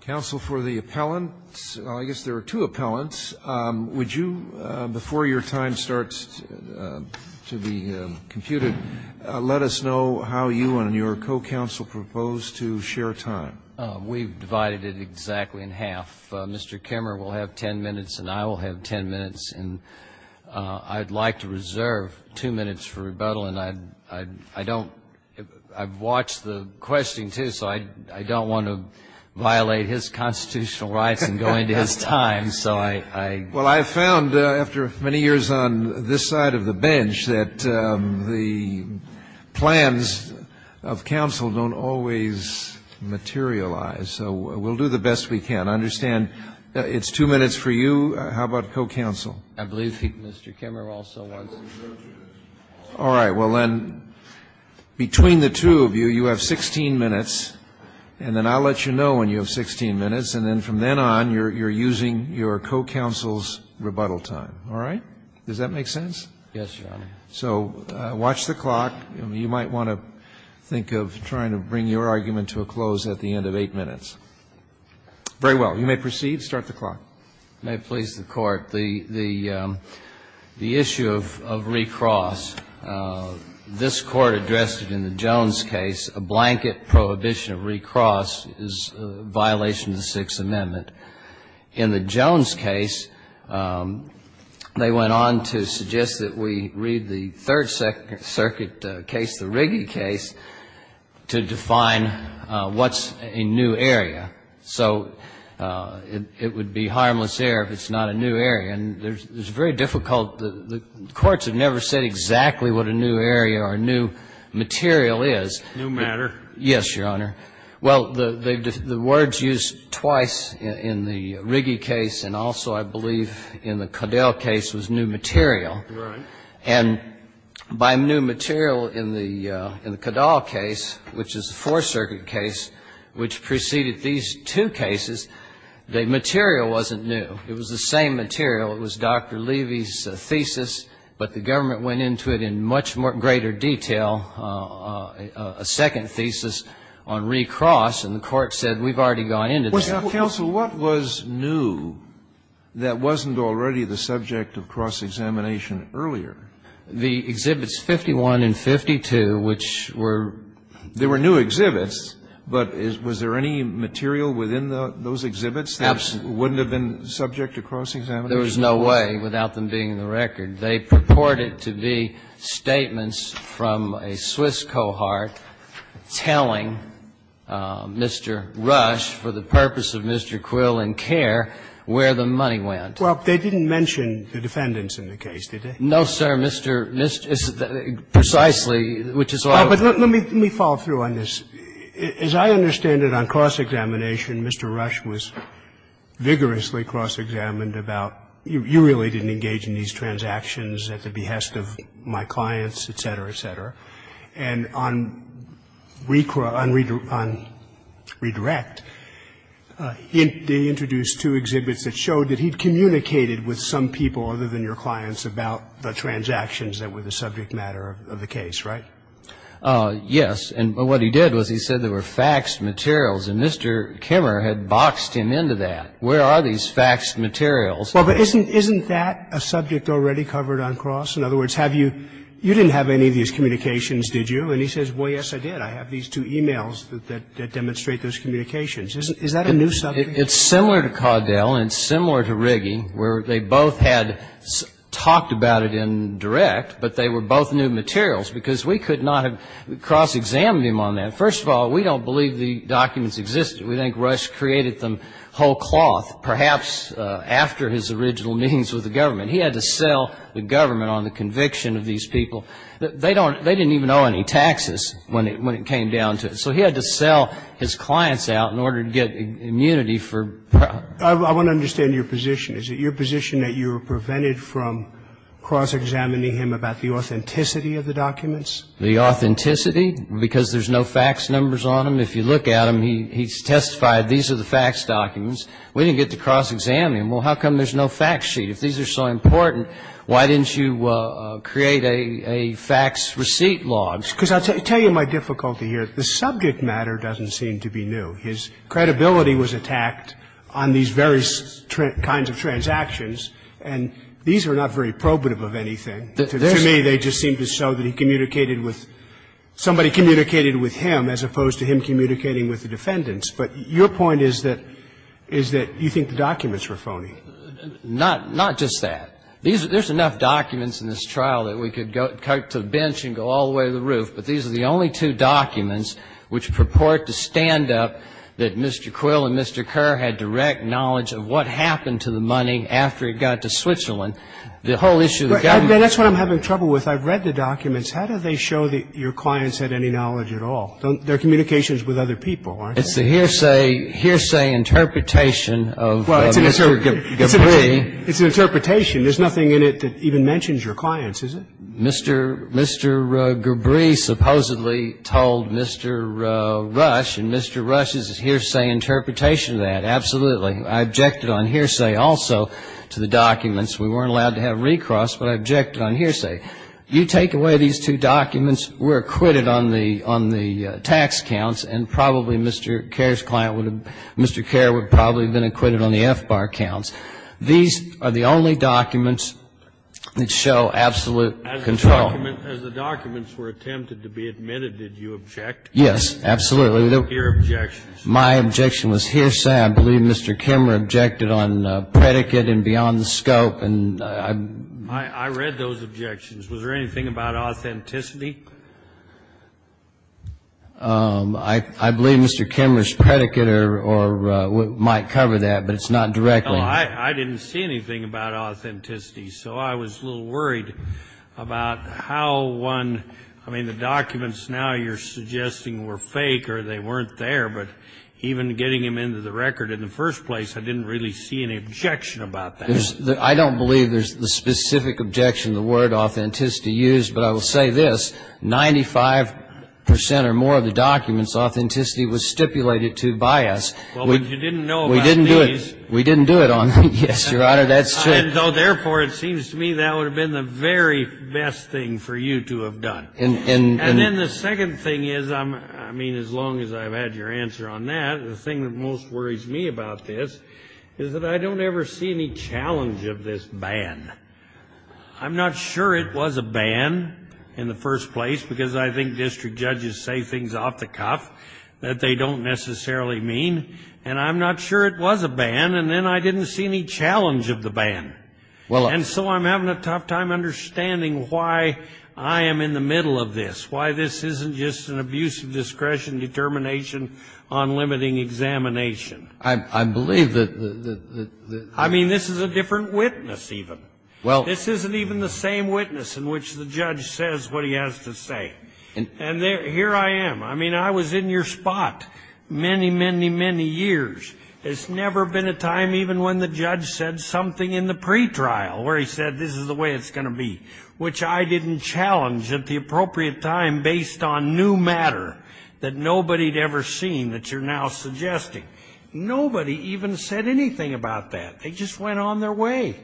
Counsel for the appellant. I guess there are two appellants. Would you, before your time starts to be computed, let us know how you and your co-counsel propose to share time? We've divided it exactly in half. Mr. Kimmerer will have ten minutes and I will have ten minutes. And I'd like to reserve two minutes for rebuttal. And I don't – I've watched the questioning, too, so I don't want to violate his constitutional rights in going to his time. Well, I've found, after many years on this side of the bench, that the plans of counsel don't always materialize. So we'll do the best we can. I understand it's two minutes for you. How about co-counsel? I believe Mr. Kimmerer also wants to – All right. Well, then, between the two of you, you have 16 minutes, and then I'll let you know when you have 16 minutes, and then from then on, you're using your co-counsel's rebuttal time. All right? Does that make sense? Yes, Your Honor. So watch the clock. You might want to think of trying to bring your argument to a close at the end of eight minutes. Very well. You may proceed. Start the clock. May it please the Court. The issue of recross, this Court addressed it in the Jones case. A blanket prohibition of recross is a violation of the Sixth Amendment. In the Jones case, they went on to suggest that we read the Third Circuit case, the Riggi case, to define what's a new area. So it would be harmless error if it's not a new area. And there's a very difficult – the courts have never said exactly what a new area or a new material is. New matter. Yes, Your Honor. Well, the words used twice in the Riggi case and also, I believe, in the Codell case was new material. Right. And by new material in the Codell case, which is the Fourth Circuit case, which preceded these two cases, the material wasn't new. It was the same material. It was Dr. Levy's thesis, but the government went into it in much greater detail, a second thesis on recross, and the Court said, we've already gone into this. Now, counsel, what was new that wasn't already the subject of cross-examination earlier? The exhibits 51 and 52, which were new. There were new exhibits, but was there any material within those exhibits that wouldn't have been subject to cross-examination? There was no way without them being in the record. They purported to be statements from a Swiss cohort telling Mr. Rush, for the purpose of Mr. Quill and care, where the money went. Well, they didn't mention the defendants in the case, did they? No, sir. Mr. Mrs. Precisely, which is all of them. Let me follow through on this. As I understand it, on cross-examination, Mr. Rush was vigorously cross-examined about, you really didn't engage in these transactions at the behest of my clients, et cetera, et cetera. And on redirect, they introduced two exhibits that showed that he'd communicated with some people other than your clients about the transactions that were the subject matter of the case, right? Yes, and what he did was he said there were faxed materials, and Mr. Kimmer had boxed him into that. Where are these faxed materials? Well, but isn't that a subject already covered on cross? In other words, have you you didn't have any of these communications, did you? And he says, well, yes, I did. I have these two e-mails that demonstrate those communications. Is that a new subject? It's similar to Caudel and similar to Riggi, where they both had talked about it in direct, but they were both new materials, because we could not have cross-examined him on that. First of all, we don't believe the documents existed. We think Rush created them whole cloth, perhaps after his original meetings with the government. He had to sell the government on the conviction of these people. They don't they didn't even know any taxes when it when it came down to it. So he had to sell his clients out in order to get immunity for. I want to understand your position. Is it your position that you were prevented from cross-examining him about the authenticity of the documents? The authenticity, because there's no fax numbers on him. If you look at him, he's testified, these are the fax documents. We didn't get to cross-examine him. Well, how come there's no fax sheet? If these are so important, why didn't you create a fax receipt log? Because I'll tell you my difficulty here. The subject matter doesn't seem to be new. His credibility was attacked on these various kinds of transactions. And these are not very probative of anything. To me, they just seem to show that he communicated with somebody communicated with him, as opposed to him communicating with the defendants. But your point is that is that you think the documents were phony. Not not just that. There's enough documents in this trial that we could go to the bench and go all the way to the roof, but these are the only two documents which purport to stand up that Mr. Quill and Mr. Kerr had direct knowledge of what happened to the money after it got to Switzerland. The whole issue of the government. That's what I'm having trouble with. I've read the documents. How do they show that your clients had any knowledge at all? They're communications with other people, aren't they? It's a hearsay interpretation of Mr. Gabrie. It's an interpretation. There's nothing in it that even mentions your clients, is it? Mr. Gabrie supposedly told Mr. Rush, and Mr. Rush's hearsay interpretation of that, absolutely. I objected on hearsay also to the documents. We weren't allowed to have recross, but I objected on hearsay. You take away these two documents, we're acquitted on the tax counts, and probably Mr. Kerr's client would have been acquitted on the FBAR counts. These are the only documents that show absolute control. As the documents were attempted to be admitted, did you object? Yes, absolutely. Your objections? My objection was hearsay. I believe Mr. Kemmerer objected on predicate and beyond the scope. I read those objections. Was there anything about authenticity? I believe Mr. Kemmerer's predicate might cover that, but it's not directly. I didn't see anything about authenticity, so I was a little worried about how one, I mean, the documents now you're suggesting were fake or they weren't there, but even getting them into the record in the first place, I didn't really see any objection about that. I don't believe there's the specific objection, the word authenticity used, but I will say this, 95% or more of the documents, authenticity was stipulated to by us. Well, but you didn't know about these. We didn't do it on them. Yes, Your Honor, that's true. And so therefore, it seems to me that would have been the very best thing for you to have done. And then the second thing is, I mean, as long as I've had your answer on that, the thing that most worries me about this is that I don't ever see any challenge of this ban. I'm not sure it was a ban in the first place, because I think district judges say things off the cuff that they don't necessarily mean, and I'm not sure it was a ban, and then I didn't see any challenge of the ban. And so I'm having a tough time understanding why I am in the middle of this, why this isn't just an abuse of discretion, determination on limiting examination. I believe that the... I mean, this is a different witness, even. Well... This isn't even the same witness in which the judge says what he has to say. And here I am. I mean, I was in your spot many, many, many years. It's never been a time even when the judge said something in the pretrial where he said this is the way it's going to be, which I didn't challenge at the appropriate time based on new matter that nobody had ever seen that you're now suggesting. Nobody even said anything about that. They just went on their way,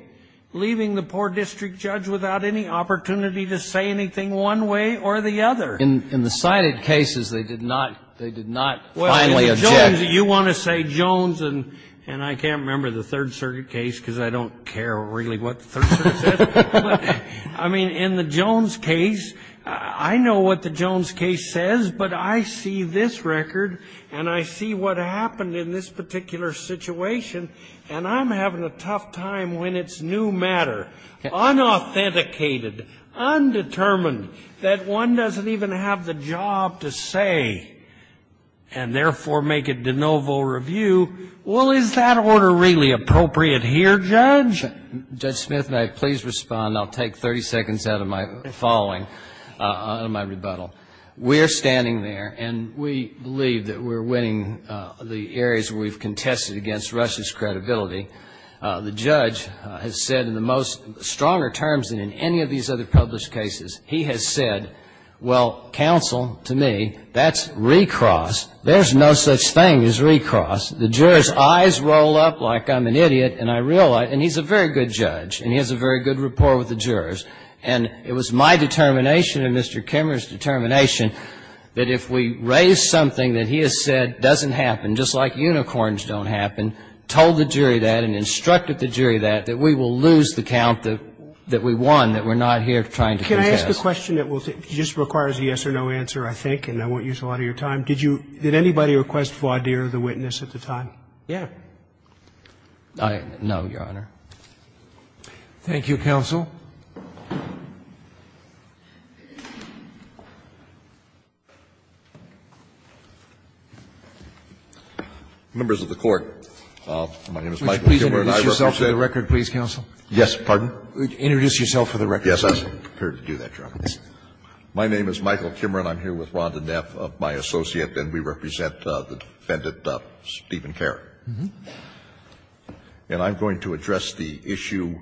leaving the poor district judge without any opportunity to say anything one way or the other. In the cited cases, they did not finally object. You want to say Jones, and I can't remember the Third Circuit case, because I don't care really what the Third Circuit said. But, I mean, in the Jones case, I know what the Jones case says, but I see this record and I see what happened in this particular situation, and I'm having a tough time when it's new matter, unauthenticated, undetermined, that one doesn't even have the job to say, and therefore make a de novo review. Judge Smith, may I please respond? I'll take 30 seconds out of my following, out of my rebuttal. We're standing there, and we believe that we're winning the areas where we've contested against Russia's credibility. The judge has said in the most stronger terms than in any of these other published cases, he has said, well, counsel, to me, that's recross. There's no such thing as recross. The jurors' eyes roll up like I'm an idiot, and I realize, and he's a very good judge, and he has a very good rapport with the jurors. And it was my determination and Mr. Kimmerer's determination that if we raise something that he has said doesn't happen, just like unicorns don't happen, told the jury that and instructed the jury that, that we will lose the count that we won, that we're not here trying to contest. Can I ask a question that will just require a yes or no answer, I think, and I won't use a lot of your time? Did you – did anybody request voir dire the witness at the time? Yeah. No, Your Honor. Thank you, counsel. Members of the Court, my name is Michael Kimmerer, and I work for the State. Would you please introduce yourself for the record, please, counsel? Yes, pardon? Introduce yourself for the record. Yes, I'm prepared to do that, Your Honor. My name is Michael Kimmerer, and I'm here with Rhonda Neff, my associate, and we represent the defendant, Stephen Kerr. And I'm going to address the issue,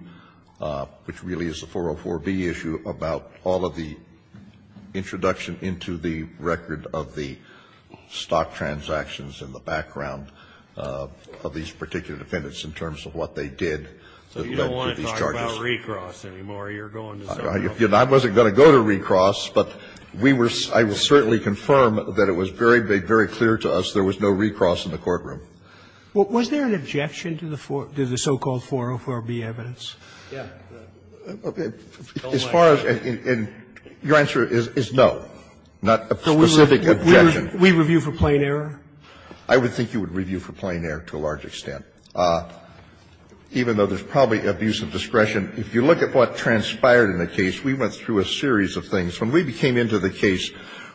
which really is the 404B issue, about all of the introduction into the record of the stock transactions and the background of these particular defendants in terms of what they did that led to these charges. So you don't want to talk about recross anymore. You're going to say recross. I wasn't going to go to recross, but we were – I will certainly confirm that it was very, very clear to us there was no recross in the courtroom. Was there an objection to the so-called 404B evidence? Yeah. As far as – and your answer is no, not a specific objection. We review for plain error? I would think you would review for plain error to a large extent, even though there's probably abuse of discretion. If you look at what transpired in the case, we went through a series of things. When we came into the case,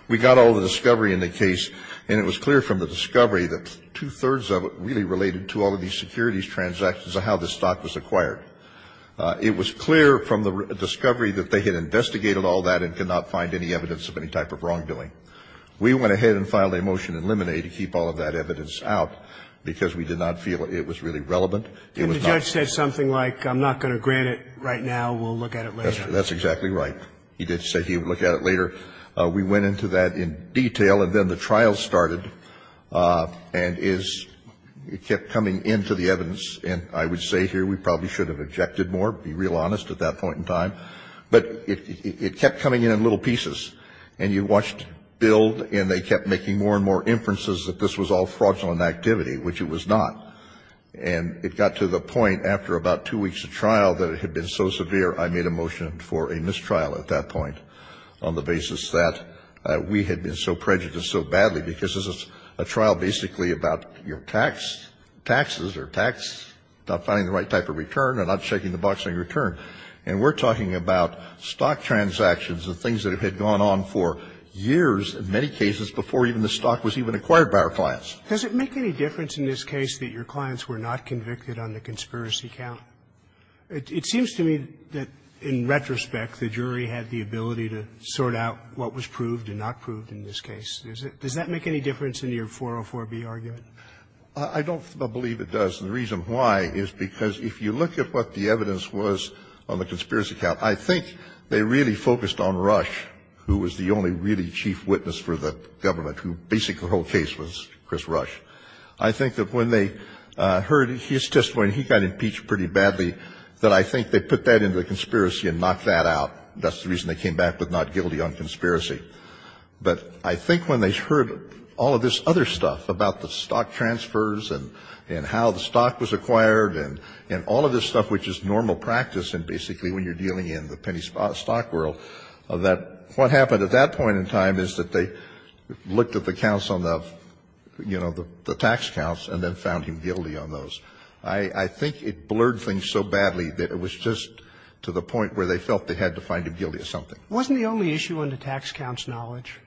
we got all the discovery in the case, and it was clear from the discovery that two-thirds of it really related to all of these securities transactions and how the stock was acquired. It was clear from the discovery that they had investigated all that and could not find any evidence of any type of wrongdoing. We went ahead and filed a motion in limine to keep all of that evidence out because we did not feel it was really relevant. Didn't the judge say something like, I'm not going to grant it right now, we'll look at it later? That's exactly right. He did say he would look at it later. We went into that in detail, and then the trial started and is – it kept coming into the evidence, and I would say here we probably should have objected more, be real honest, at that point in time. But it kept coming in in little pieces, and you watched it build, and they kept making more and more inferences that this was all fraudulent activity, which it was not. And it got to the point after about two weeks of trial that it had been so severe, I made a motion for a mistrial at that point on the basis that we had been so prejudiced so badly, because this is a trial basically about your tax, taxes or tax, not finding the right type of return or not checking the box on your return. And we're talking about stock transactions and things that had gone on for years in many cases before even the stock was even acquired by our clients. Does it make any difference in this case that your clients were not convicted on the conspiracy count? It seems to me that in retrospect, the jury had the ability to sort out what was proved and not proved in this case. Does that make any difference in your 404B argument? I don't believe it does. And the reason why is because if you look at what the evidence was on the conspiracy count, I think they really focused on Rush, who was the only really chief witness for the government, who basically the whole case was Chris Rush. I think that when they heard his testimony, he got impeached pretty badly, that I think they put that into the conspiracy and knocked that out. That's the reason they came back with not guilty on conspiracy. But I think when they heard all of this other stuff about the stock transfers and how the stock was acquired and all of this stuff, which is normal practice and basically when you're dealing in the penny stock world, that what happened at that point in time was that they looked at the counts on the, you know, the tax counts and then found him guilty on those. I think it blurred things so badly that it was just to the point where they felt they had to find him guilty of something. Wasn't the only issue on the tax counts knowledge?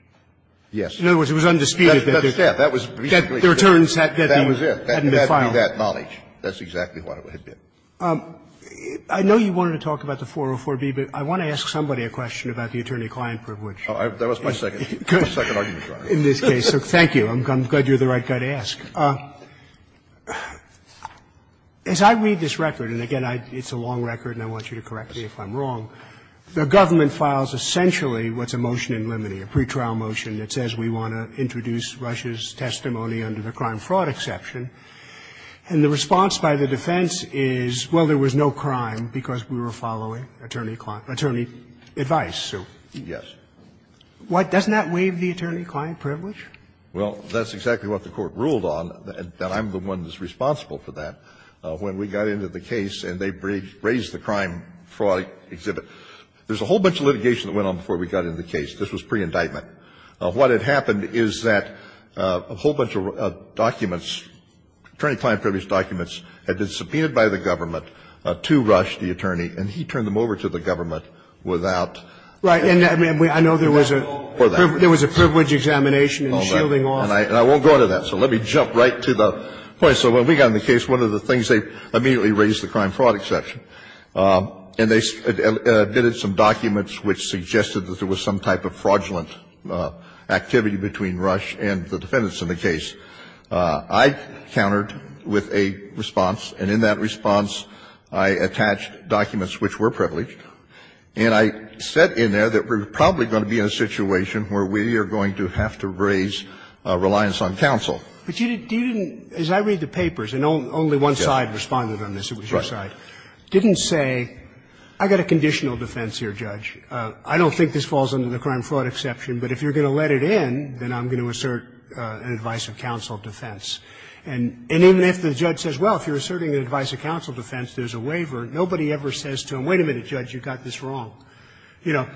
Yes. In other words, it was undisputed that the returns hadn't been filed. That was it. It had to be that knowledge. That's exactly what it had been. I know you wanted to talk about the 404B, but I want to ask somebody a question about the attorney-client privilege. That was my second argument. In this case, thank you. I'm glad you're the right guy to ask. As I read this record, and again, it's a long record and I want you to correct me if I'm wrong, the government files essentially what's a motion in limine, a pretrial motion that says we want to introduce Russia's testimony under the crime fraud exception, and the response by the defense is, well, there was no crime because we were following attorney-client advice. Yes. Why doesn't that waive the attorney-client privilege? Well, that's exactly what the Court ruled on, and I'm the one that's responsible for that. When we got into the case and they raised the crime fraud exhibit, there's a whole bunch of litigation that went on before we got into the case. This was pre-indictment. What had happened is that a whole bunch of documents, attorney-client privilege documents, had been subpoenaed by the government to Rush, the attorney, and he turned them over to the government without any approval for that. Right. And I know there was a privilege examination and shielding off. And I won't go into that, so let me jump right to the point. So when we got into the case, one of the things they immediately raised, the crime fraud exception, and they admitted some documents which suggested that there was some type of fraudulent activity between Rush and the defendants in the case. I countered with a response, and in that response, I attached documents which were privileged, and I said in there that we're probably going to be in a situation where we are going to have to raise reliance on counsel. But you didn't, as I read the papers, and only one side responded on this, it was your side, didn't say, I've got a conditional defense here, Judge. I don't think this falls under the crime fraud exception, but if you're going to let it in, then I'm going to assert an advice-of-counsel defense. And even if the judge says, well, if you're asserting an advice-of-counsel defense, there's a waiver, nobody ever says to him, wait a minute, Judge, you've got this wrong. You know,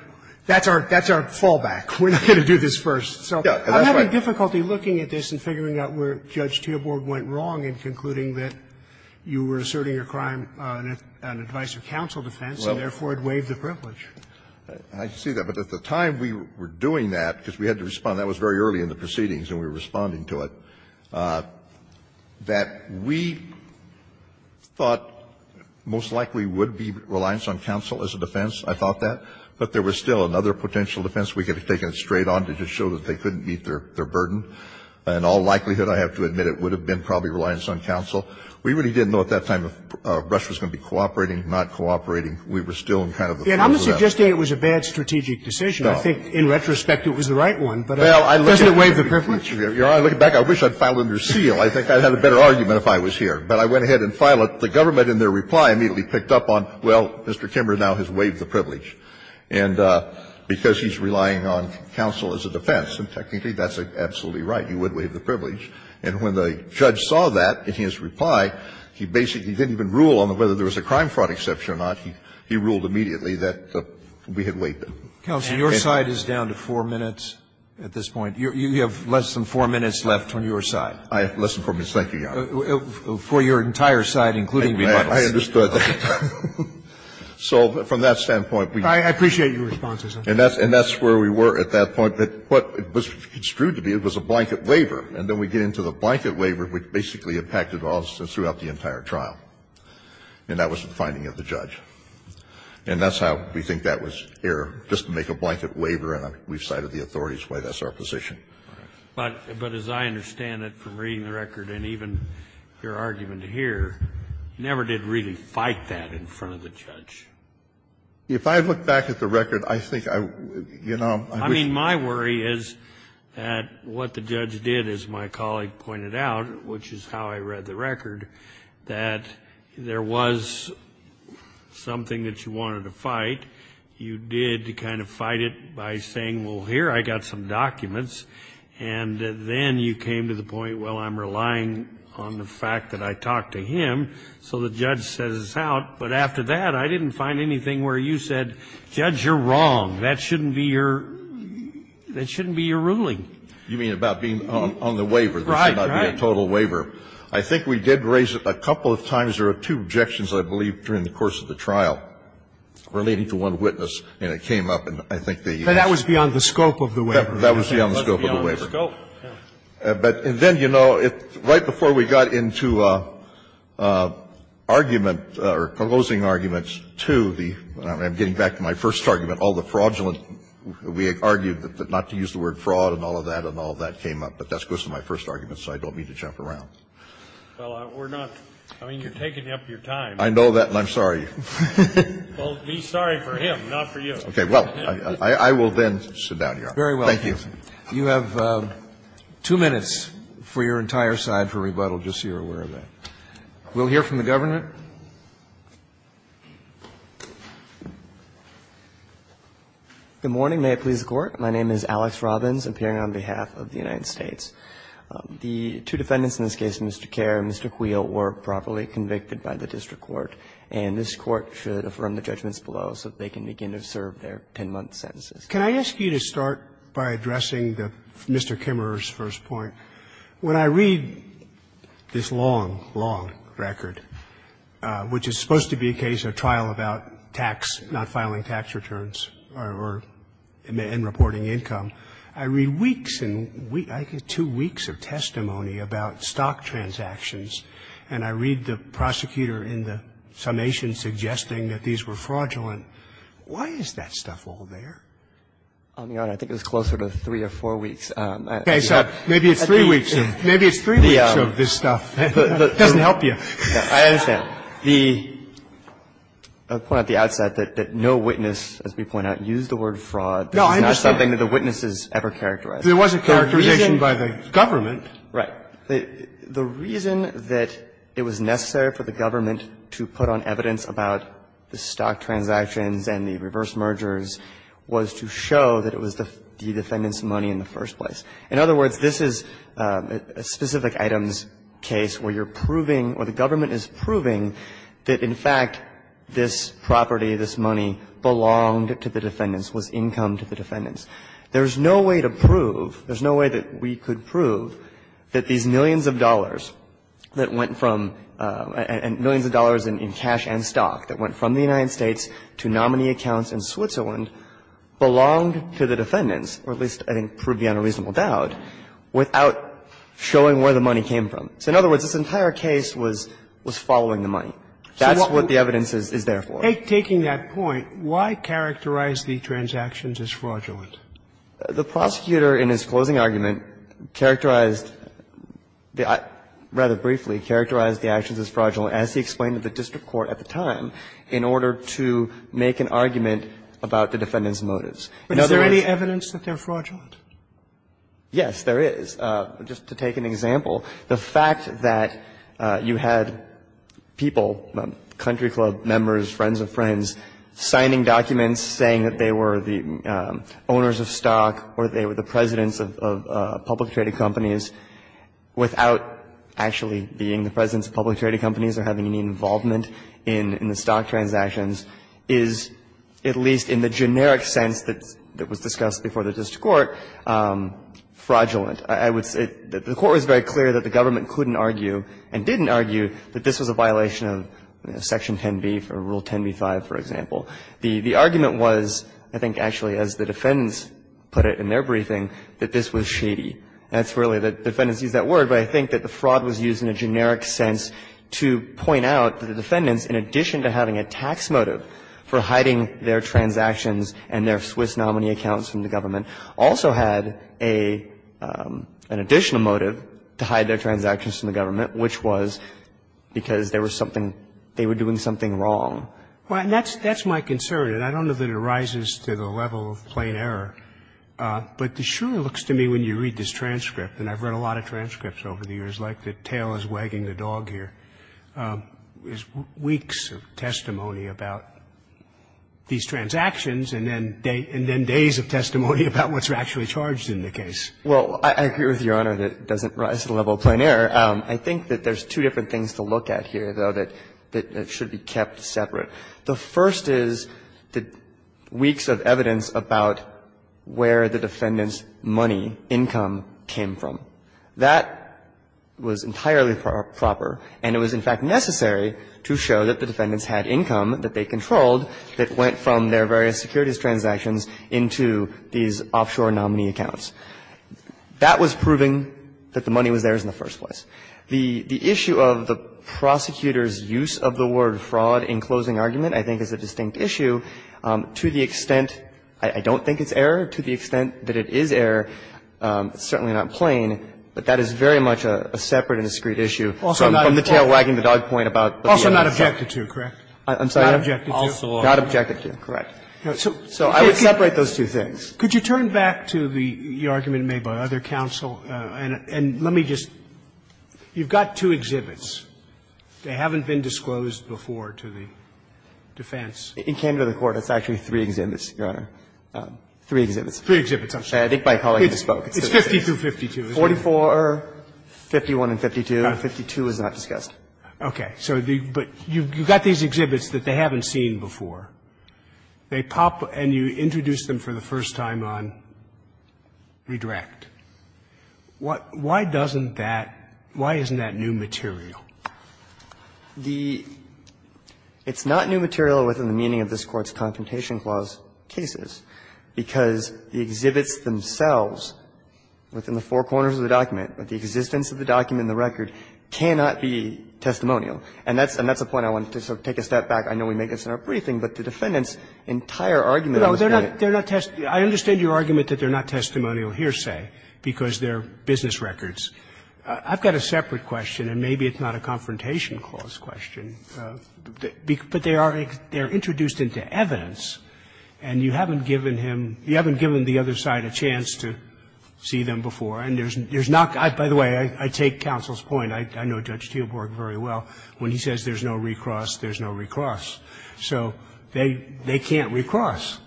that's our fallback. We're not going to do this first. So I'm having difficulty looking at this and figuring out where Judge Teelborg went wrong in concluding that you were asserting your crime on an advice-of-counsel defense, and therefore, it waived the privilege. I see that. But at the time we were doing that, because we had to respond, that was very early in the proceedings and we were responding to it, that we thought most likely would be reliance on counsel as a defense. I thought that. But there was still another potential defense. We could have taken it straight on to just show that they couldn't meet their burden. In all likelihood, I have to admit, it would have been probably reliance on counsel. We really didn't know at that time if Rush was going to be cooperating, not cooperating. We were still in kind of a fallback. And I don't think it was a bad strategic decision. I think in retrospect, it was the right one, but doesn't it waive the privilege? You know, looking back, I wish I'd filed under seal. I think I'd have a better argument if I was here. But I went ahead and filed it. The government, in their reply, immediately picked up on, well, Mr. Kimber now has waived the privilege, and because he's relying on counsel as a defense. And technically, that's absolutely right. You would waive the privilege. And when the judge saw that in his reply, he basically didn't even rule on whether there was a crime fraud exception or not. He ruled immediately that we had waived it. Roberts. And your side is down to 4 minutes at this point. You have less than 4 minutes left on your side. Less than 4 minutes. Thank you, Your Honor. For your entire side, including rebuttals. I understood that. So from that standpoint, we. I appreciate your response, Mr. Kennedy. And that's where we were at that point. What was construed to be, it was a blanket waiver. And then we get into the blanket waiver, which basically impacted us throughout the entire trial. And that was the finding of the judge. And that's how we think that was aired, just to make a blanket waiver. And we've cited the authorities why that's our position. But as I understand it from reading the record and even your argument here, you never did really fight that in front of the judge. If I look back at the record, I think I would, you know. I mean, my worry is that what the judge did, as my colleague pointed out, which is how I read the record, that there was something that you wanted to fight. You did kind of fight it by saying, well, here, I got some documents. And then you came to the point, well, I'm relying on the fact that I talked to him. So the judge says it's out. But after that, I didn't find anything where you said, judge, you're wrong. That shouldn't be your, that shouldn't be your ruling. You mean about being on the waiver. Right, right. There should not be a total waiver. I think we did raise it a couple of times. There were two objections, I believe, during the course of the trial relating to one witness, and it came up. And I think the next. But that was beyond the scope of the waiver. That was beyond the scope of the waiver. But then, you know, right before we got into argument or closing argument to the – I'm getting back to my first argument, all the fraudulent, we argued not to use the word fraud and all of that, and all of that came up. But that goes to my first argument, so I don't mean to jump around. Well, we're not – I mean, you're taking up your time. I know that, and I'm sorry. Well, be sorry for him, not for you. Okay. Well, I will then sit down here. Thank you. Very well. You have two minutes for your entire side for rebuttal, just so you're aware of that. We'll hear from the government. Good morning. May it please the Court. My name is Alex Robbins, appearing on behalf of the United States. The two defendants in this case, Mr. Kerr and Mr. Quill, were properly convicted by the district court, and this Court should affirm the judgments below so that they can begin to serve their 10-month sentences. Can I ask you to start by addressing Mr. Kimmerer's first point? When I read this long, long record, which is supposed to be a case of trial about tax – not filing tax returns or – and reporting income, I read weeks and – I get two weeks of testimony about stock transactions, and I read the prosecutor in the summation suggesting that these were fraudulent. Why is that stuff all there? Your Honor, I think it was closer to three or four weeks. Okay. So maybe it's three weeks. Maybe it's three weeks of this stuff. It doesn't help you. I understand. The point at the outset that no witness, as we point out, used the word fraud. This is not something that the witnesses ever characterized. There was a characterization by the government. Right. The reason that it was necessary for the government to put on evidence about the stock transactions and the reverse mergers was to show that it was the defendants' money in the first place. In other words, this is a specific items case where you're proving, or the government is proving, that, in fact, this property, this money, belonged to the defendants, was income to the defendants. There's no way to prove, there's no way that we could prove that these millions of dollars that went from – and millions of dollars in cash and stock that went from the United States to nominee accounts in Switzerland belonged to the defendants, or at least, I think, proved beyond a reasonable doubt, without showing where the money came from. So, in other words, this entire case was following the money. That's what the evidence is there for. Sotomayor, taking that point, why characterize the transactions as fraudulent? The prosecutor, in his closing argument, characterized the – rather briefly, characterized the actions as fraudulent, as he explained to the district court at the time, in order to make an argument about the defendants' motives. In other words – But is there any evidence that they're fraudulent? Yes, there is. Just to take an example, the fact that you had people, country club members, friends of friends, signing documents saying that they were the owners of stock or they were the presidents of public-traded companies, without actually being the presidents of public-traded companies or having any involvement in the stock transactions, is, at least in the generic sense that was discussed before the district court, fraudulent. I would say that the Court was very clear that the government couldn't argue and didn't argue that this was a violation of Section 10b, or Rule 10b-5, for example. The argument was, I think, actually, as the defendants put it in their briefing, that this was shady. That's really the defendants used that word, but I think that the fraud was used in a generic sense to point out that the defendants, in addition to having a tax motive for hiding their transactions and their Swiss nominee accounts from the government, also had an additional motive to hide their transactions from the government, which was because there was something – they were doing something wrong. Well, and that's my concern, and I don't know that it rises to the level of plain error, but it sure looks to me when you read this transcript, and I've read a lot of it, and I was wagging the dog here, there's weeks of testimony about these transactions and then days of testimony about what's actually charged in the case. Well, I agree with Your Honor that it doesn't rise to the level of plain error. I think that there's two different things to look at here, though, that should be kept separate. The first is the weeks of evidence about where the defendants' money, income, came from. That was entirely proper, and it was, in fact, necessary to show that the defendants had income that they controlled that went from their various securities transactions into these offshore nominee accounts. That was proving that the money was theirs in the first place. The issue of the prosecutor's use of the word fraud in closing argument, I think, is a distinct issue to the extent I don't think it's error, to the extent that it is error. It's certainly not plain, but that is very much a separate and discreet issue from the tail wagging the dog point about the defendants' money. Also not objected to, correct? I'm sorry? Not objected to? Also not objected to. Correct. So I would separate those two things. Could you turn back to the argument made by other counsel, and let me just – you've got two exhibits. They haven't been disclosed before to the defense. In Canada, the Court, it's actually three exhibits, Your Honor, three exhibits. Three exhibits, I'm sorry. I think my colleague just spoke. It's 52-52, isn't it? 44, 51, and 52, and 52 is not discussed. Okay. So the – but you've got these exhibits that they haven't seen before. They pop, and you introduce them for the first time on redirect. Why doesn't that – why isn't that new material? The – it's not new material within the meaning of this Court's Confrontation Clause cases, because the exhibits themselves within the four corners of the document, the existence of the document and the record, cannot be testimonial. And that's a point I wanted to sort of take a step back. I know we make this in our briefing, but the defendant's entire argument on this case – No, they're not – I understand your argument that they're not testimonial hearsay because they're business records. I've got a separate question, and maybe it's not a Confrontation Clause question, but they are introduced into evidence, and you haven't given him – you haven't given the other side a chance to see them before. And there's not – by the way, I take counsel's point. I know Judge Teelborg very well. When he says there's no recross, there's no recross. So they can't recross.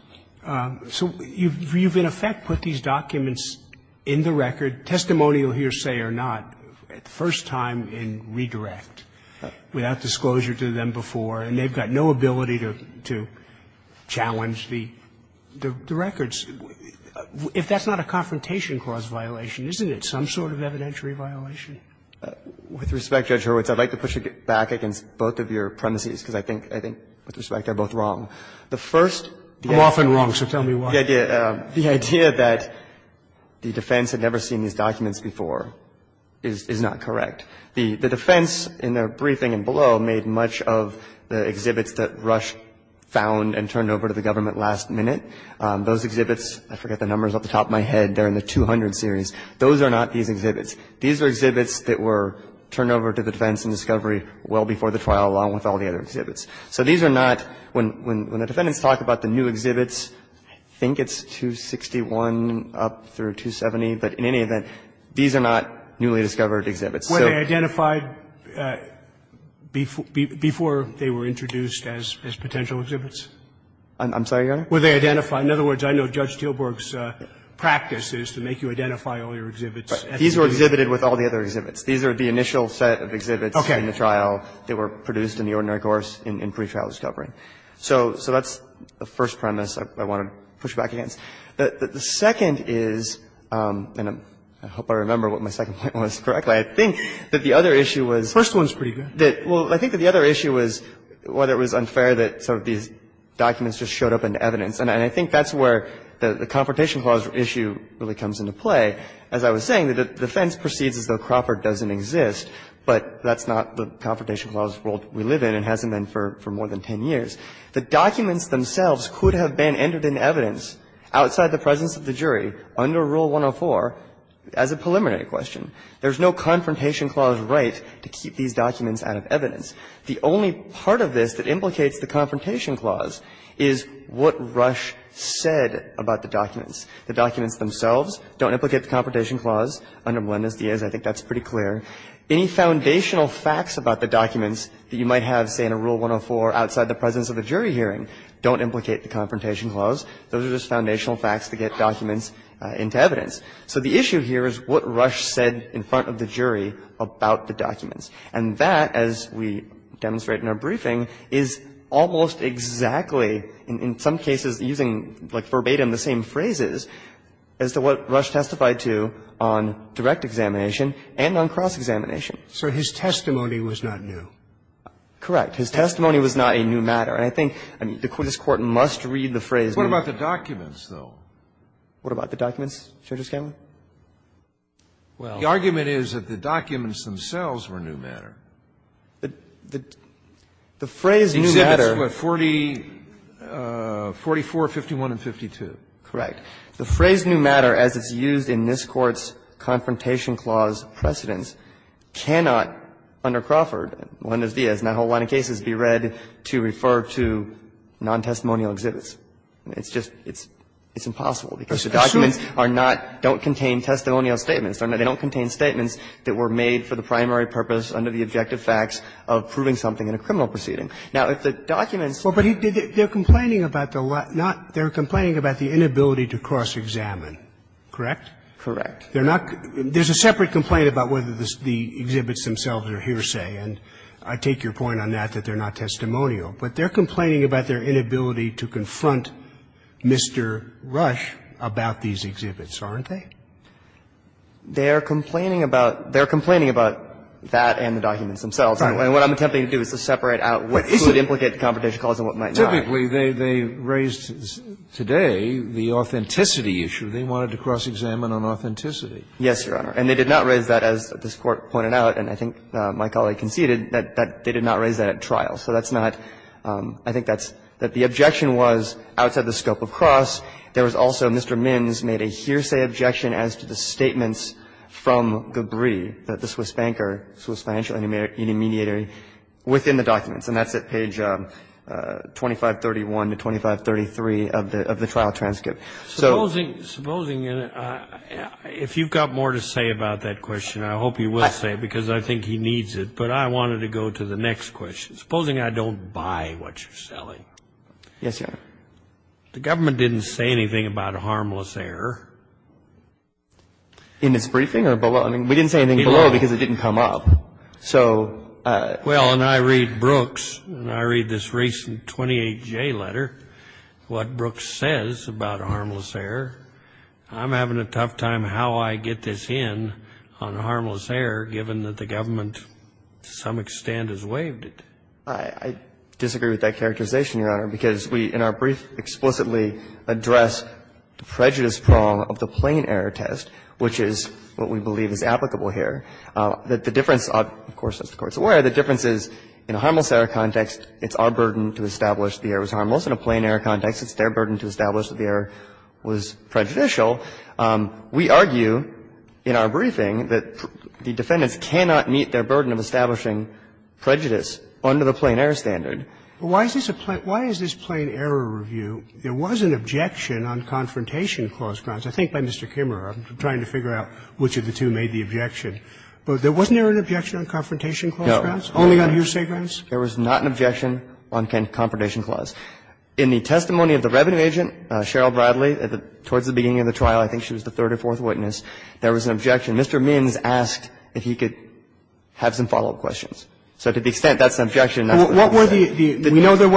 So you've in effect put these documents in the record, testimonial hearsay or not, at first time in redirect, without disclosure to them before, and they've got no ability to challenge the records. If that's not a Confrontation Clause violation, isn't it some sort of evidentiary violation? With respect, Judge Hurwitz, I'd like to push it back against both of your premises, because I think – I think with respect, they're both wrong. The first – I'm often wrong, so tell me why. The idea that the defense had never seen these documents before is not correct. The defense, in their briefing and below, made much of the exhibits that Rush found and turned over to the government last minute. Those exhibits – I forget the numbers off the top of my head. They're in the 200 series. Those are not these exhibits. These are exhibits that were turned over to the defense in discovery well before the trial, along with all the other exhibits. So these are not – when the defendants talk about the new exhibits, I think it's 261 up through 270, but in any event, these are not newly discovered exhibits. So they identified before they were introduced as potential exhibits? I'm sorry, Your Honor? Were they identified – in other words, I know Judge Teelburg's practice is to make you identify all your exhibits. These were exhibited with all the other exhibits. These are the initial set of exhibits in the trial that were produced in the ordinary course in pre-trial discovery. So that's the first premise I want to push back against. The second is – and I hope I remember what my second point was correctly. I think that the other issue was – First one's pretty good. Well, I think that the other issue was whether it was unfair that sort of these documents just showed up in evidence. And I think that's where the Confrontation Clause issue really comes into play. As I was saying, the defense proceeds as though Crawford doesn't exist, but that's not the Confrontation Clause world we live in and hasn't been for more than 10 years. The documents themselves could have been entered in evidence outside the presence of the jury under Rule 104 as a preliminary question. There's no Confrontation Clause right to keep these documents out of evidence. The only part of this that implicates the Confrontation Clause is what Rush said about the documents. The documents themselves don't implicate the Confrontation Clause under Melendez-Diaz. I think that's pretty clear. Any foundational facts about the documents that you might have, say, in a Rule 104 outside the presence of a jury hearing don't implicate the Confrontation Clause. Those are just foundational facts to get documents into evidence. So the issue here is what Rush said in front of the jury about the documents. And that, as we demonstrate in our briefing, is almost exactly, in some cases using like verbatim the same phrases, as to what Rush testified to on direct examination and on cross-examination. So his testimony was not new. Correct. His testimony was not a new matter. And I think this Court must read the phrase new matter. What about the documents, though? What about the documents, Judge O'Scanlon? Well, the argument is that the documents themselves were new matter. The phrase new matter. Exhibits, what, 44, 51, and 52. Correct. The phrase new matter, as it's used in this Court's Confrontation Clause precedents, cannot, under Crawford, Lendis-Diaz, and that whole line of cases, be read to refer to nontestimonial exhibits. It's just, it's impossible, because the documents are not, don't contain testimonial statements. They don't contain statements that were made for the primary purpose under the objective facts of proving something in a criminal proceeding. Now, if the documents are not new matter, they're complaining about the inability to cross-examine, correct? Correct. They're not – there's a separate complaint about whether the exhibits themselves are hearsay, and I take your point on that, that they're not testimonial. But they're complaining about their inability to confront Mr. Rush about these exhibits, aren't they? They're complaining about – they're complaining about that and the documents themselves. And what I'm attempting to do is to separate out what could implicate the Confrontation Clause and what might not. But typically, they raised today the authenticity issue. They wanted to cross-examine on authenticity. Yes, Your Honor. And they did not raise that, as this Court pointed out, and I think my colleague conceded, that they did not raise that at trial. So that's not – I think that's – that the objection was outside the scope of cross. There was also Mr. Minns made a hearsay objection as to the statements from Gabrie, the Swiss banker, Swiss financial intermediary, within the documents. And that's at page 2531 to 2533 of the trial transcript. So – Supposing – supposing – if you've got more to say about that question, I hope you will say it, because I think he needs it. But I wanted to go to the next question. Supposing I don't buy what you're selling. Yes, Your Honor. The government didn't say anything about a harmless error. In its briefing or below? I mean, we didn't say anything below because it didn't come up. So – Well, and I read Brooks, and I read this recent 28J letter, what Brooks says about a harmless error. I'm having a tough time how I get this in on a harmless error, given that the government to some extent has waived it. I disagree with that characterization, Your Honor, because we, in our brief, explicitly address the prejudice prong of the plain error test, which is what we believe is applicable here. That the difference, of course, as the Court's aware, the difference is in a harmless error context, it's our burden to establish the error was harmless. In a plain error context, it's their burden to establish that the error was prejudicial. We argue in our briefing that the defendants cannot meet their burden of establishing prejudice under the plain error standard. But why is this a – why is this plain error review? There was an objection on confrontation clause grounds, I think by Mr. Kimmerer. I'm trying to figure out which of the two made the objection. Wasn't there an objection on confrontation clause grounds? No. Only on hearsay grounds? There was not an objection on confrontation clause. In the testimony of the revenue agent, Cheryl Bradley, towards the beginning of the trial, I think she was the third or fourth witness, there was an objection. Mr. Minns asked if he could have some follow-up questions. So to the extent that's an objection, that's an objection. We know there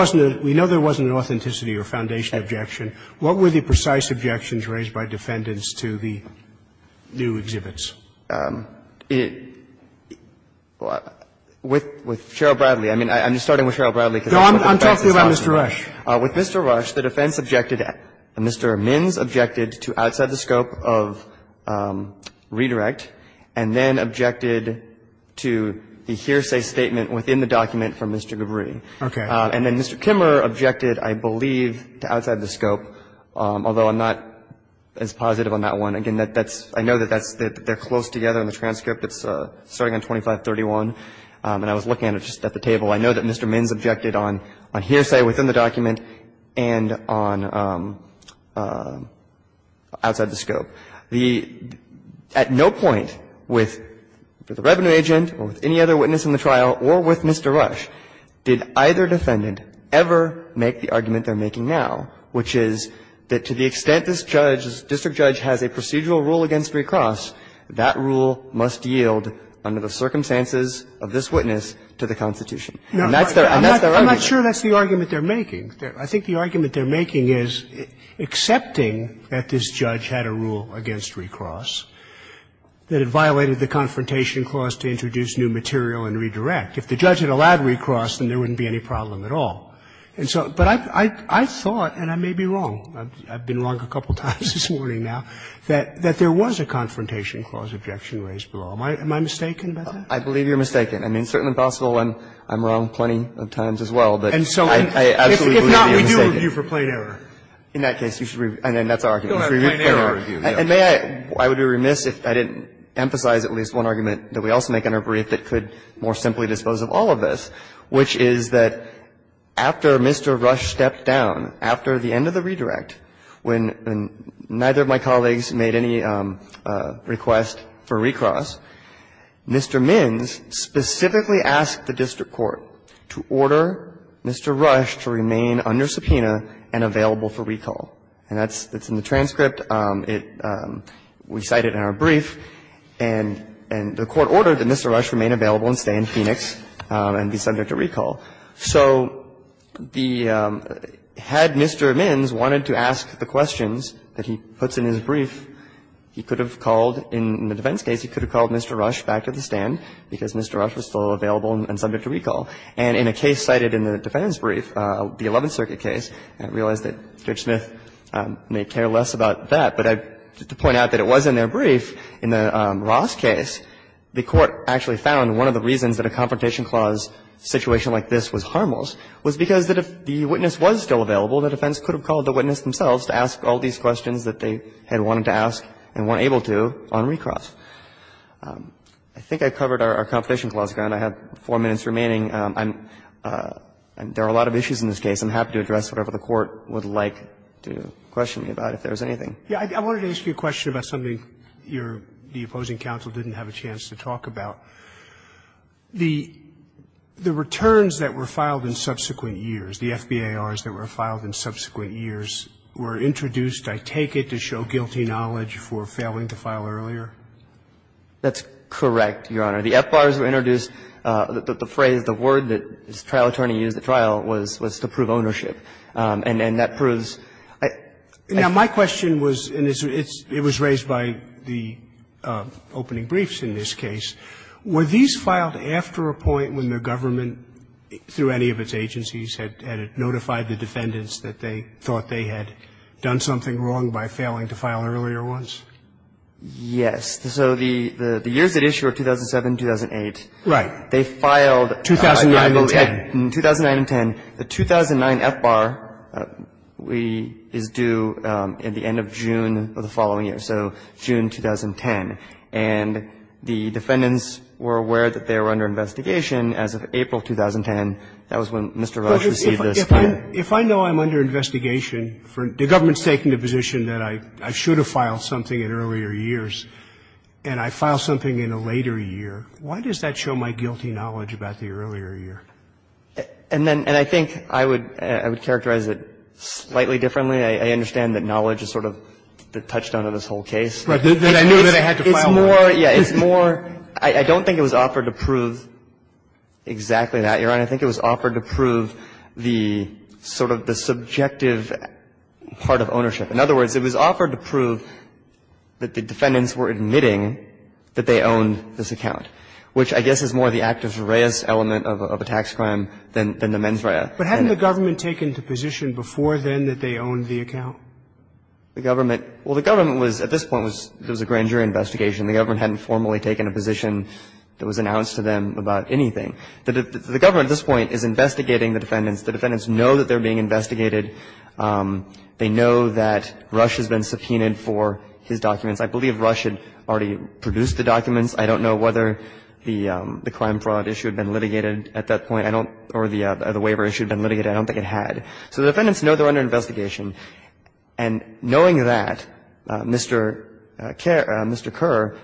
wasn't an authenticity or foundation objection. What were the precise objections raised by defendants to the new exhibits? With Cheryl Bradley, I mean, I'm just starting with Cheryl Bradley because I'm talking about Mr. Rush. With Mr. Rush, the defense objected, Mr. Minns objected to outside the scope of redirect and then objected to the hearsay statement within the document from Mr. Gavri. Okay. And then Mr. Kimmerer objected, I believe, to outside the scope, although I'm not as positive on that one. Again, that's – I know that that's – they're close together in the transcript. It's starting on 2531, and I was looking at it just at the table. I know that Mr. Minns objected on hearsay within the document and on outside the scope. The – at no point with the revenue agent or with any other witness in the trial or with Mr. Rush did either defendant ever make the argument they're making now, which is that to the extent this judge, this district judge has a procedural rule against recross, that rule must yield under the circumstances of this witness to the Constitution. And that's their argument. I'm not sure that's the argument they're making. I think the argument they're making is accepting that this judge had a rule against recross, that it violated the Confrontation Clause to introduce new material and redirect. If the judge had allowed recross, then there wouldn't be any problem at all. And so – but I thought, and I may be wrong, I've been wrong a couple times this morning now, that there was a Confrontation Clause objection raised below. Am I mistaken about that? I believe you're mistaken. I mean, it's certainly possible I'm wrong plenty of times as well, but I absolutely believe you're mistaken. And so if not, we do review for plain error. In that case, you should review – and that's our argument. You should review for plain error. And may I – I would be remiss if I didn't emphasize at least one argument that we also make under brief that could more simply dispose of all of this, which is that after Mr. Rush stepped down, after the end of the redirect, when neither of my colleagues made any request for recross, Mr. Mins specifically asked the district court to order Mr. Rush to remain under subpoena and available for recall. And that's – it's in the transcript, it – we cite it in our brief, and the court ordered that Mr. Rush remain available and stay in Phoenix and be subject to recall. So the – had Mr. Mins wanted to ask the questions that he puts in his brief, he could have called – in the defense case, he could have called Mr. Rush back to the stand because Mr. Rush was still available and subject to recall. And in a case cited in the defense brief, the Eleventh Circuit case, I realize that Judge Smith may care less about that, but I – to point out that it was in their brief, in the Ross case, the court actually found one of the reasons that a confrontation clause situation like this was harmless was because that if the witness was still available, the defense could have called the witness themselves to ask all these questions that they had wanted to ask and weren't able to on recross. I think I covered our competition clause again. I have four minutes remaining. I'm – there are a lot of issues in this case. I'm happy to address whatever the court would like to question me about, if there is anything. Roberts, I wanted to ask you a question about something your – the opposing counsel didn't have a chance to talk about. The – the returns that were filed in subsequent years, the FBARs that were filed in subsequent years, were introduced, I take it, to show guilty knowledge for failing to file earlier? That's correct, Your Honor. The FBARs were introduced. The phrase, the word that the trial attorney used at trial was to prove ownership. And that proves – Now, my question was, and it's – it was raised by the opening briefs in this case. Were these filed after a point when the government, through any of its agencies, had notified the defendants that they thought they had done something wrong by failing to file earlier ones? Yes. So the – the years at issue are 2007, 2008. Right. They filed in 2009 and 10. In 2009 and 10. The 2009 FBAR is due at the end of June of the following year, so June 2010. And the defendants were aware that they were under investigation as of April 2010. That was when Mr. Rush received this. If I know I'm under investigation for – the government's taking the position that I should have filed something in earlier years, and I file something in a later year, why does that show my guilty knowledge about the earlier year? And then – and I think I would – I would characterize it slightly differently. I understand that knowledge is sort of the touchdown of this whole case. But I knew that I had to file earlier. It's more – yeah, it's more – I don't think it was offered to prove exactly that, Your Honor. I think it was offered to prove the sort of the subjective part of ownership. In other words, it was offered to prove that the defendants were admitting that they owned this account, which I guess is more the actus reus element of a tax crime than the mens rea. The government – well, the government was – at this point, it was a grand jury investigation. The government hadn't formally taken a position that was announced to them about anything. The government at this point is investigating the defendants. The defendants know that they're being investigated. They know that Rush has been subpoenaed for his documents. I believe Rush had already produced the documents. I don't know whether the crime fraud issue had been litigated at that point. I don't – or the waiver issue had been litigated. I don't think it had. So the defendants know they're under investigation. And knowing that, Mr. Kerr – Mr.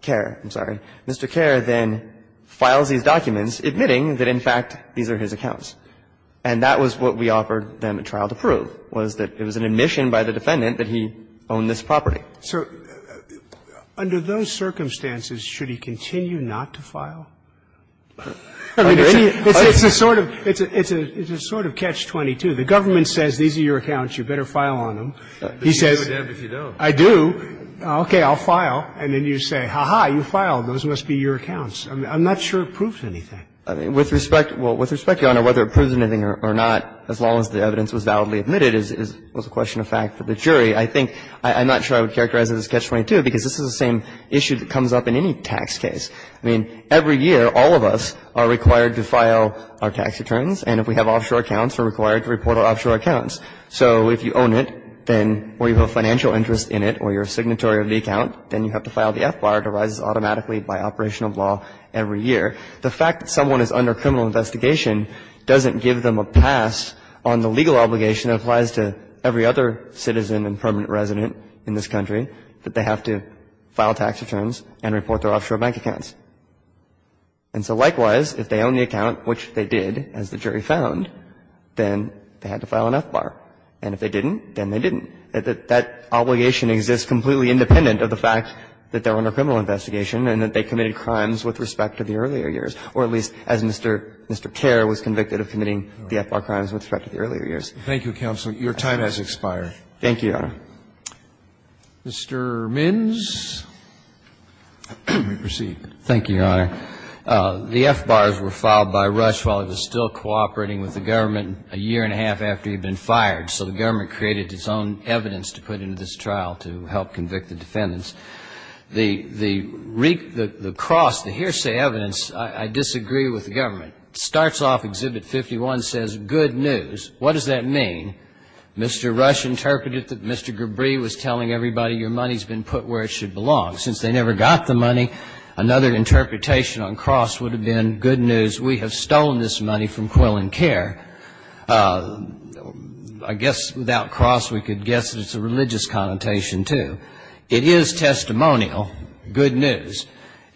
Kerr, I'm sorry – Mr. Kerr then files these documents admitting that, in fact, these are his accounts. And that was what we offered them a trial to prove, was that it was an admission by the defendant that he owned this property. So under those circumstances, should he continue not to file? I mean, it's a sort of – it's a sort of catch-22. The government says, these are your accounts. You better file on them. He says, I do. Okay, I'll file. And then you say, ha-ha, you filed. Those must be your accounts. I'm not sure it proves anything. With respect – well, with respect, Your Honor, whether it proves anything or not, as long as the evidence was validly admitted, is a question of fact for the jury. I think – I'm not sure I would characterize it as catch-22, because this is the same issue that comes up in any tax case. I mean, every year, all of us are required to file our tax returns. And if we have offshore accounts, we're required to report our offshore accounts. So if you own it, then – or you have a financial interest in it, or you're a signatory of the account, then you have to file the F-bar. It arises automatically by operational law every year. The fact that someone is under criminal investigation doesn't give them a pass on the legal obligation that applies to every other citizen and permanent resident in this country, that they have to file tax returns and report their offshore bank accounts. And so, likewise, if they own the account, which they did, as the jury found, then they had to file an F-bar. And if they didn't, then they didn't. That obligation exists completely independent of the fact that they're under criminal investigation and that they committed crimes with respect to the earlier years, or at least as Mr. Kerr was convicted of committing the F-bar crimes with respect to the earlier years. Roberts, Thank you, counsel. Your time has expired. Gannon, Thank you, Your Honor. Roberts, Mr. Minns, you may proceed. Minns, Thank you, Your Honor. The F-bars were filed by Rush while he was still cooperating with the government a year and a half after he'd been fired. So the government created its own evidence to put into this trial to help convict the defendants. The cross, the hearsay evidence, I disagree with the government. It starts off, Exhibit 51 says, good news. What does that mean? Mr. Rush interpreted that Mr. Gabriel was telling everybody your money's been put where it should belong. Since they never got the money, another interpretation on cross would have been good news. We have stolen this money from Quill and Kerr. I guess without cross, we could guess that it's a religious connotation, too. It is testimonial, good news.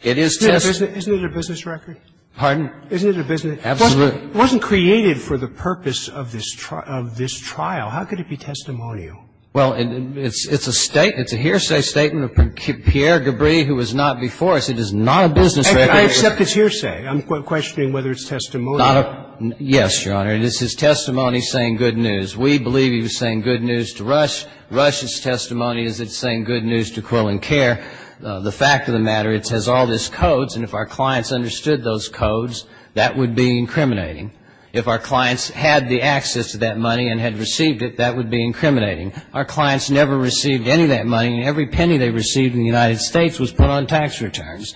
It is test. Isn't it a business record? Pardon? Isn't it a business record? Absolutely. It wasn't created for the purpose of this trial. How could it be testimonial? Well, it's a statement, it's a hearsay statement of Pierre Gabriel, who was not before us. It is not a business record. I accept it's hearsay. I'm questioning whether it's testimonial. Yes, Your Honor. It is his testimony saying good news. We believe he was saying good news to Rush. Rush's testimony is it's saying good news to Quill and Kerr. The fact of the matter, it has all these codes, and if our clients understood those codes, that would be incriminating. If our clients had the access to that money and had received it, that would be incriminating. Our clients never received any of that money, and every penny they received in the United States was put on tax returns.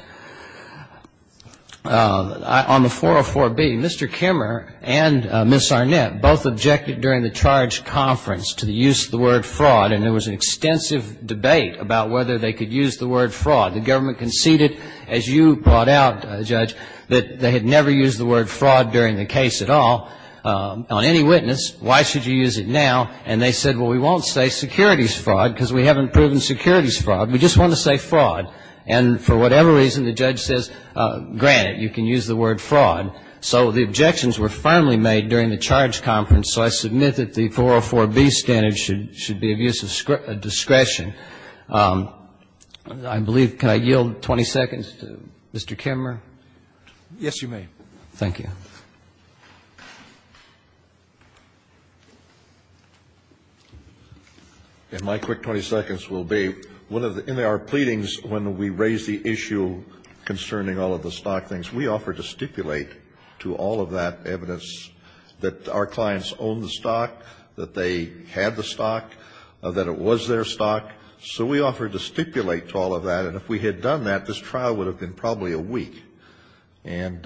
On the 404B, Mr. Kimmer and Ms. Arnett both objected during the charge conference to the use of the word fraud, and there was an extensive debate about whether they could use the word fraud. The government conceded, as you brought out, Judge, that they had never used the word fraud during the case at all on any witness. Why should you use it now? And they said, well, we won't say securities fraud because we haven't proven securities fraud. We just want to say fraud. And for whatever reason, the judge says, granted, you can use the word fraud. So the objections were firmly made during the charge conference, so I submit that the 404B standard should be of use of discretion. I believe, can I yield 20 seconds to Mr. Kimmer? Yes, you may. Thank you. And my quick 20 seconds will be, in our pleadings, when we raised the issue concerning all of the stock things, we offered to stipulate to all of that evidence that our clients owned the stock, that they had the stock, that it was their stock, so we offered to stipulate to all of that, and if we had done that, this trial would have been probably a week. And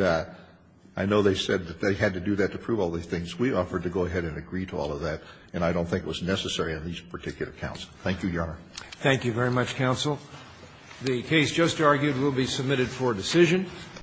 I know they said that they had to do that to prove all these things. We offered to go ahead and agree to all of that, and I don't think it was necessary on these particular counts. Thank you, Your Honor. Thank you very much, counsel. The case just argued will be submitted for decision.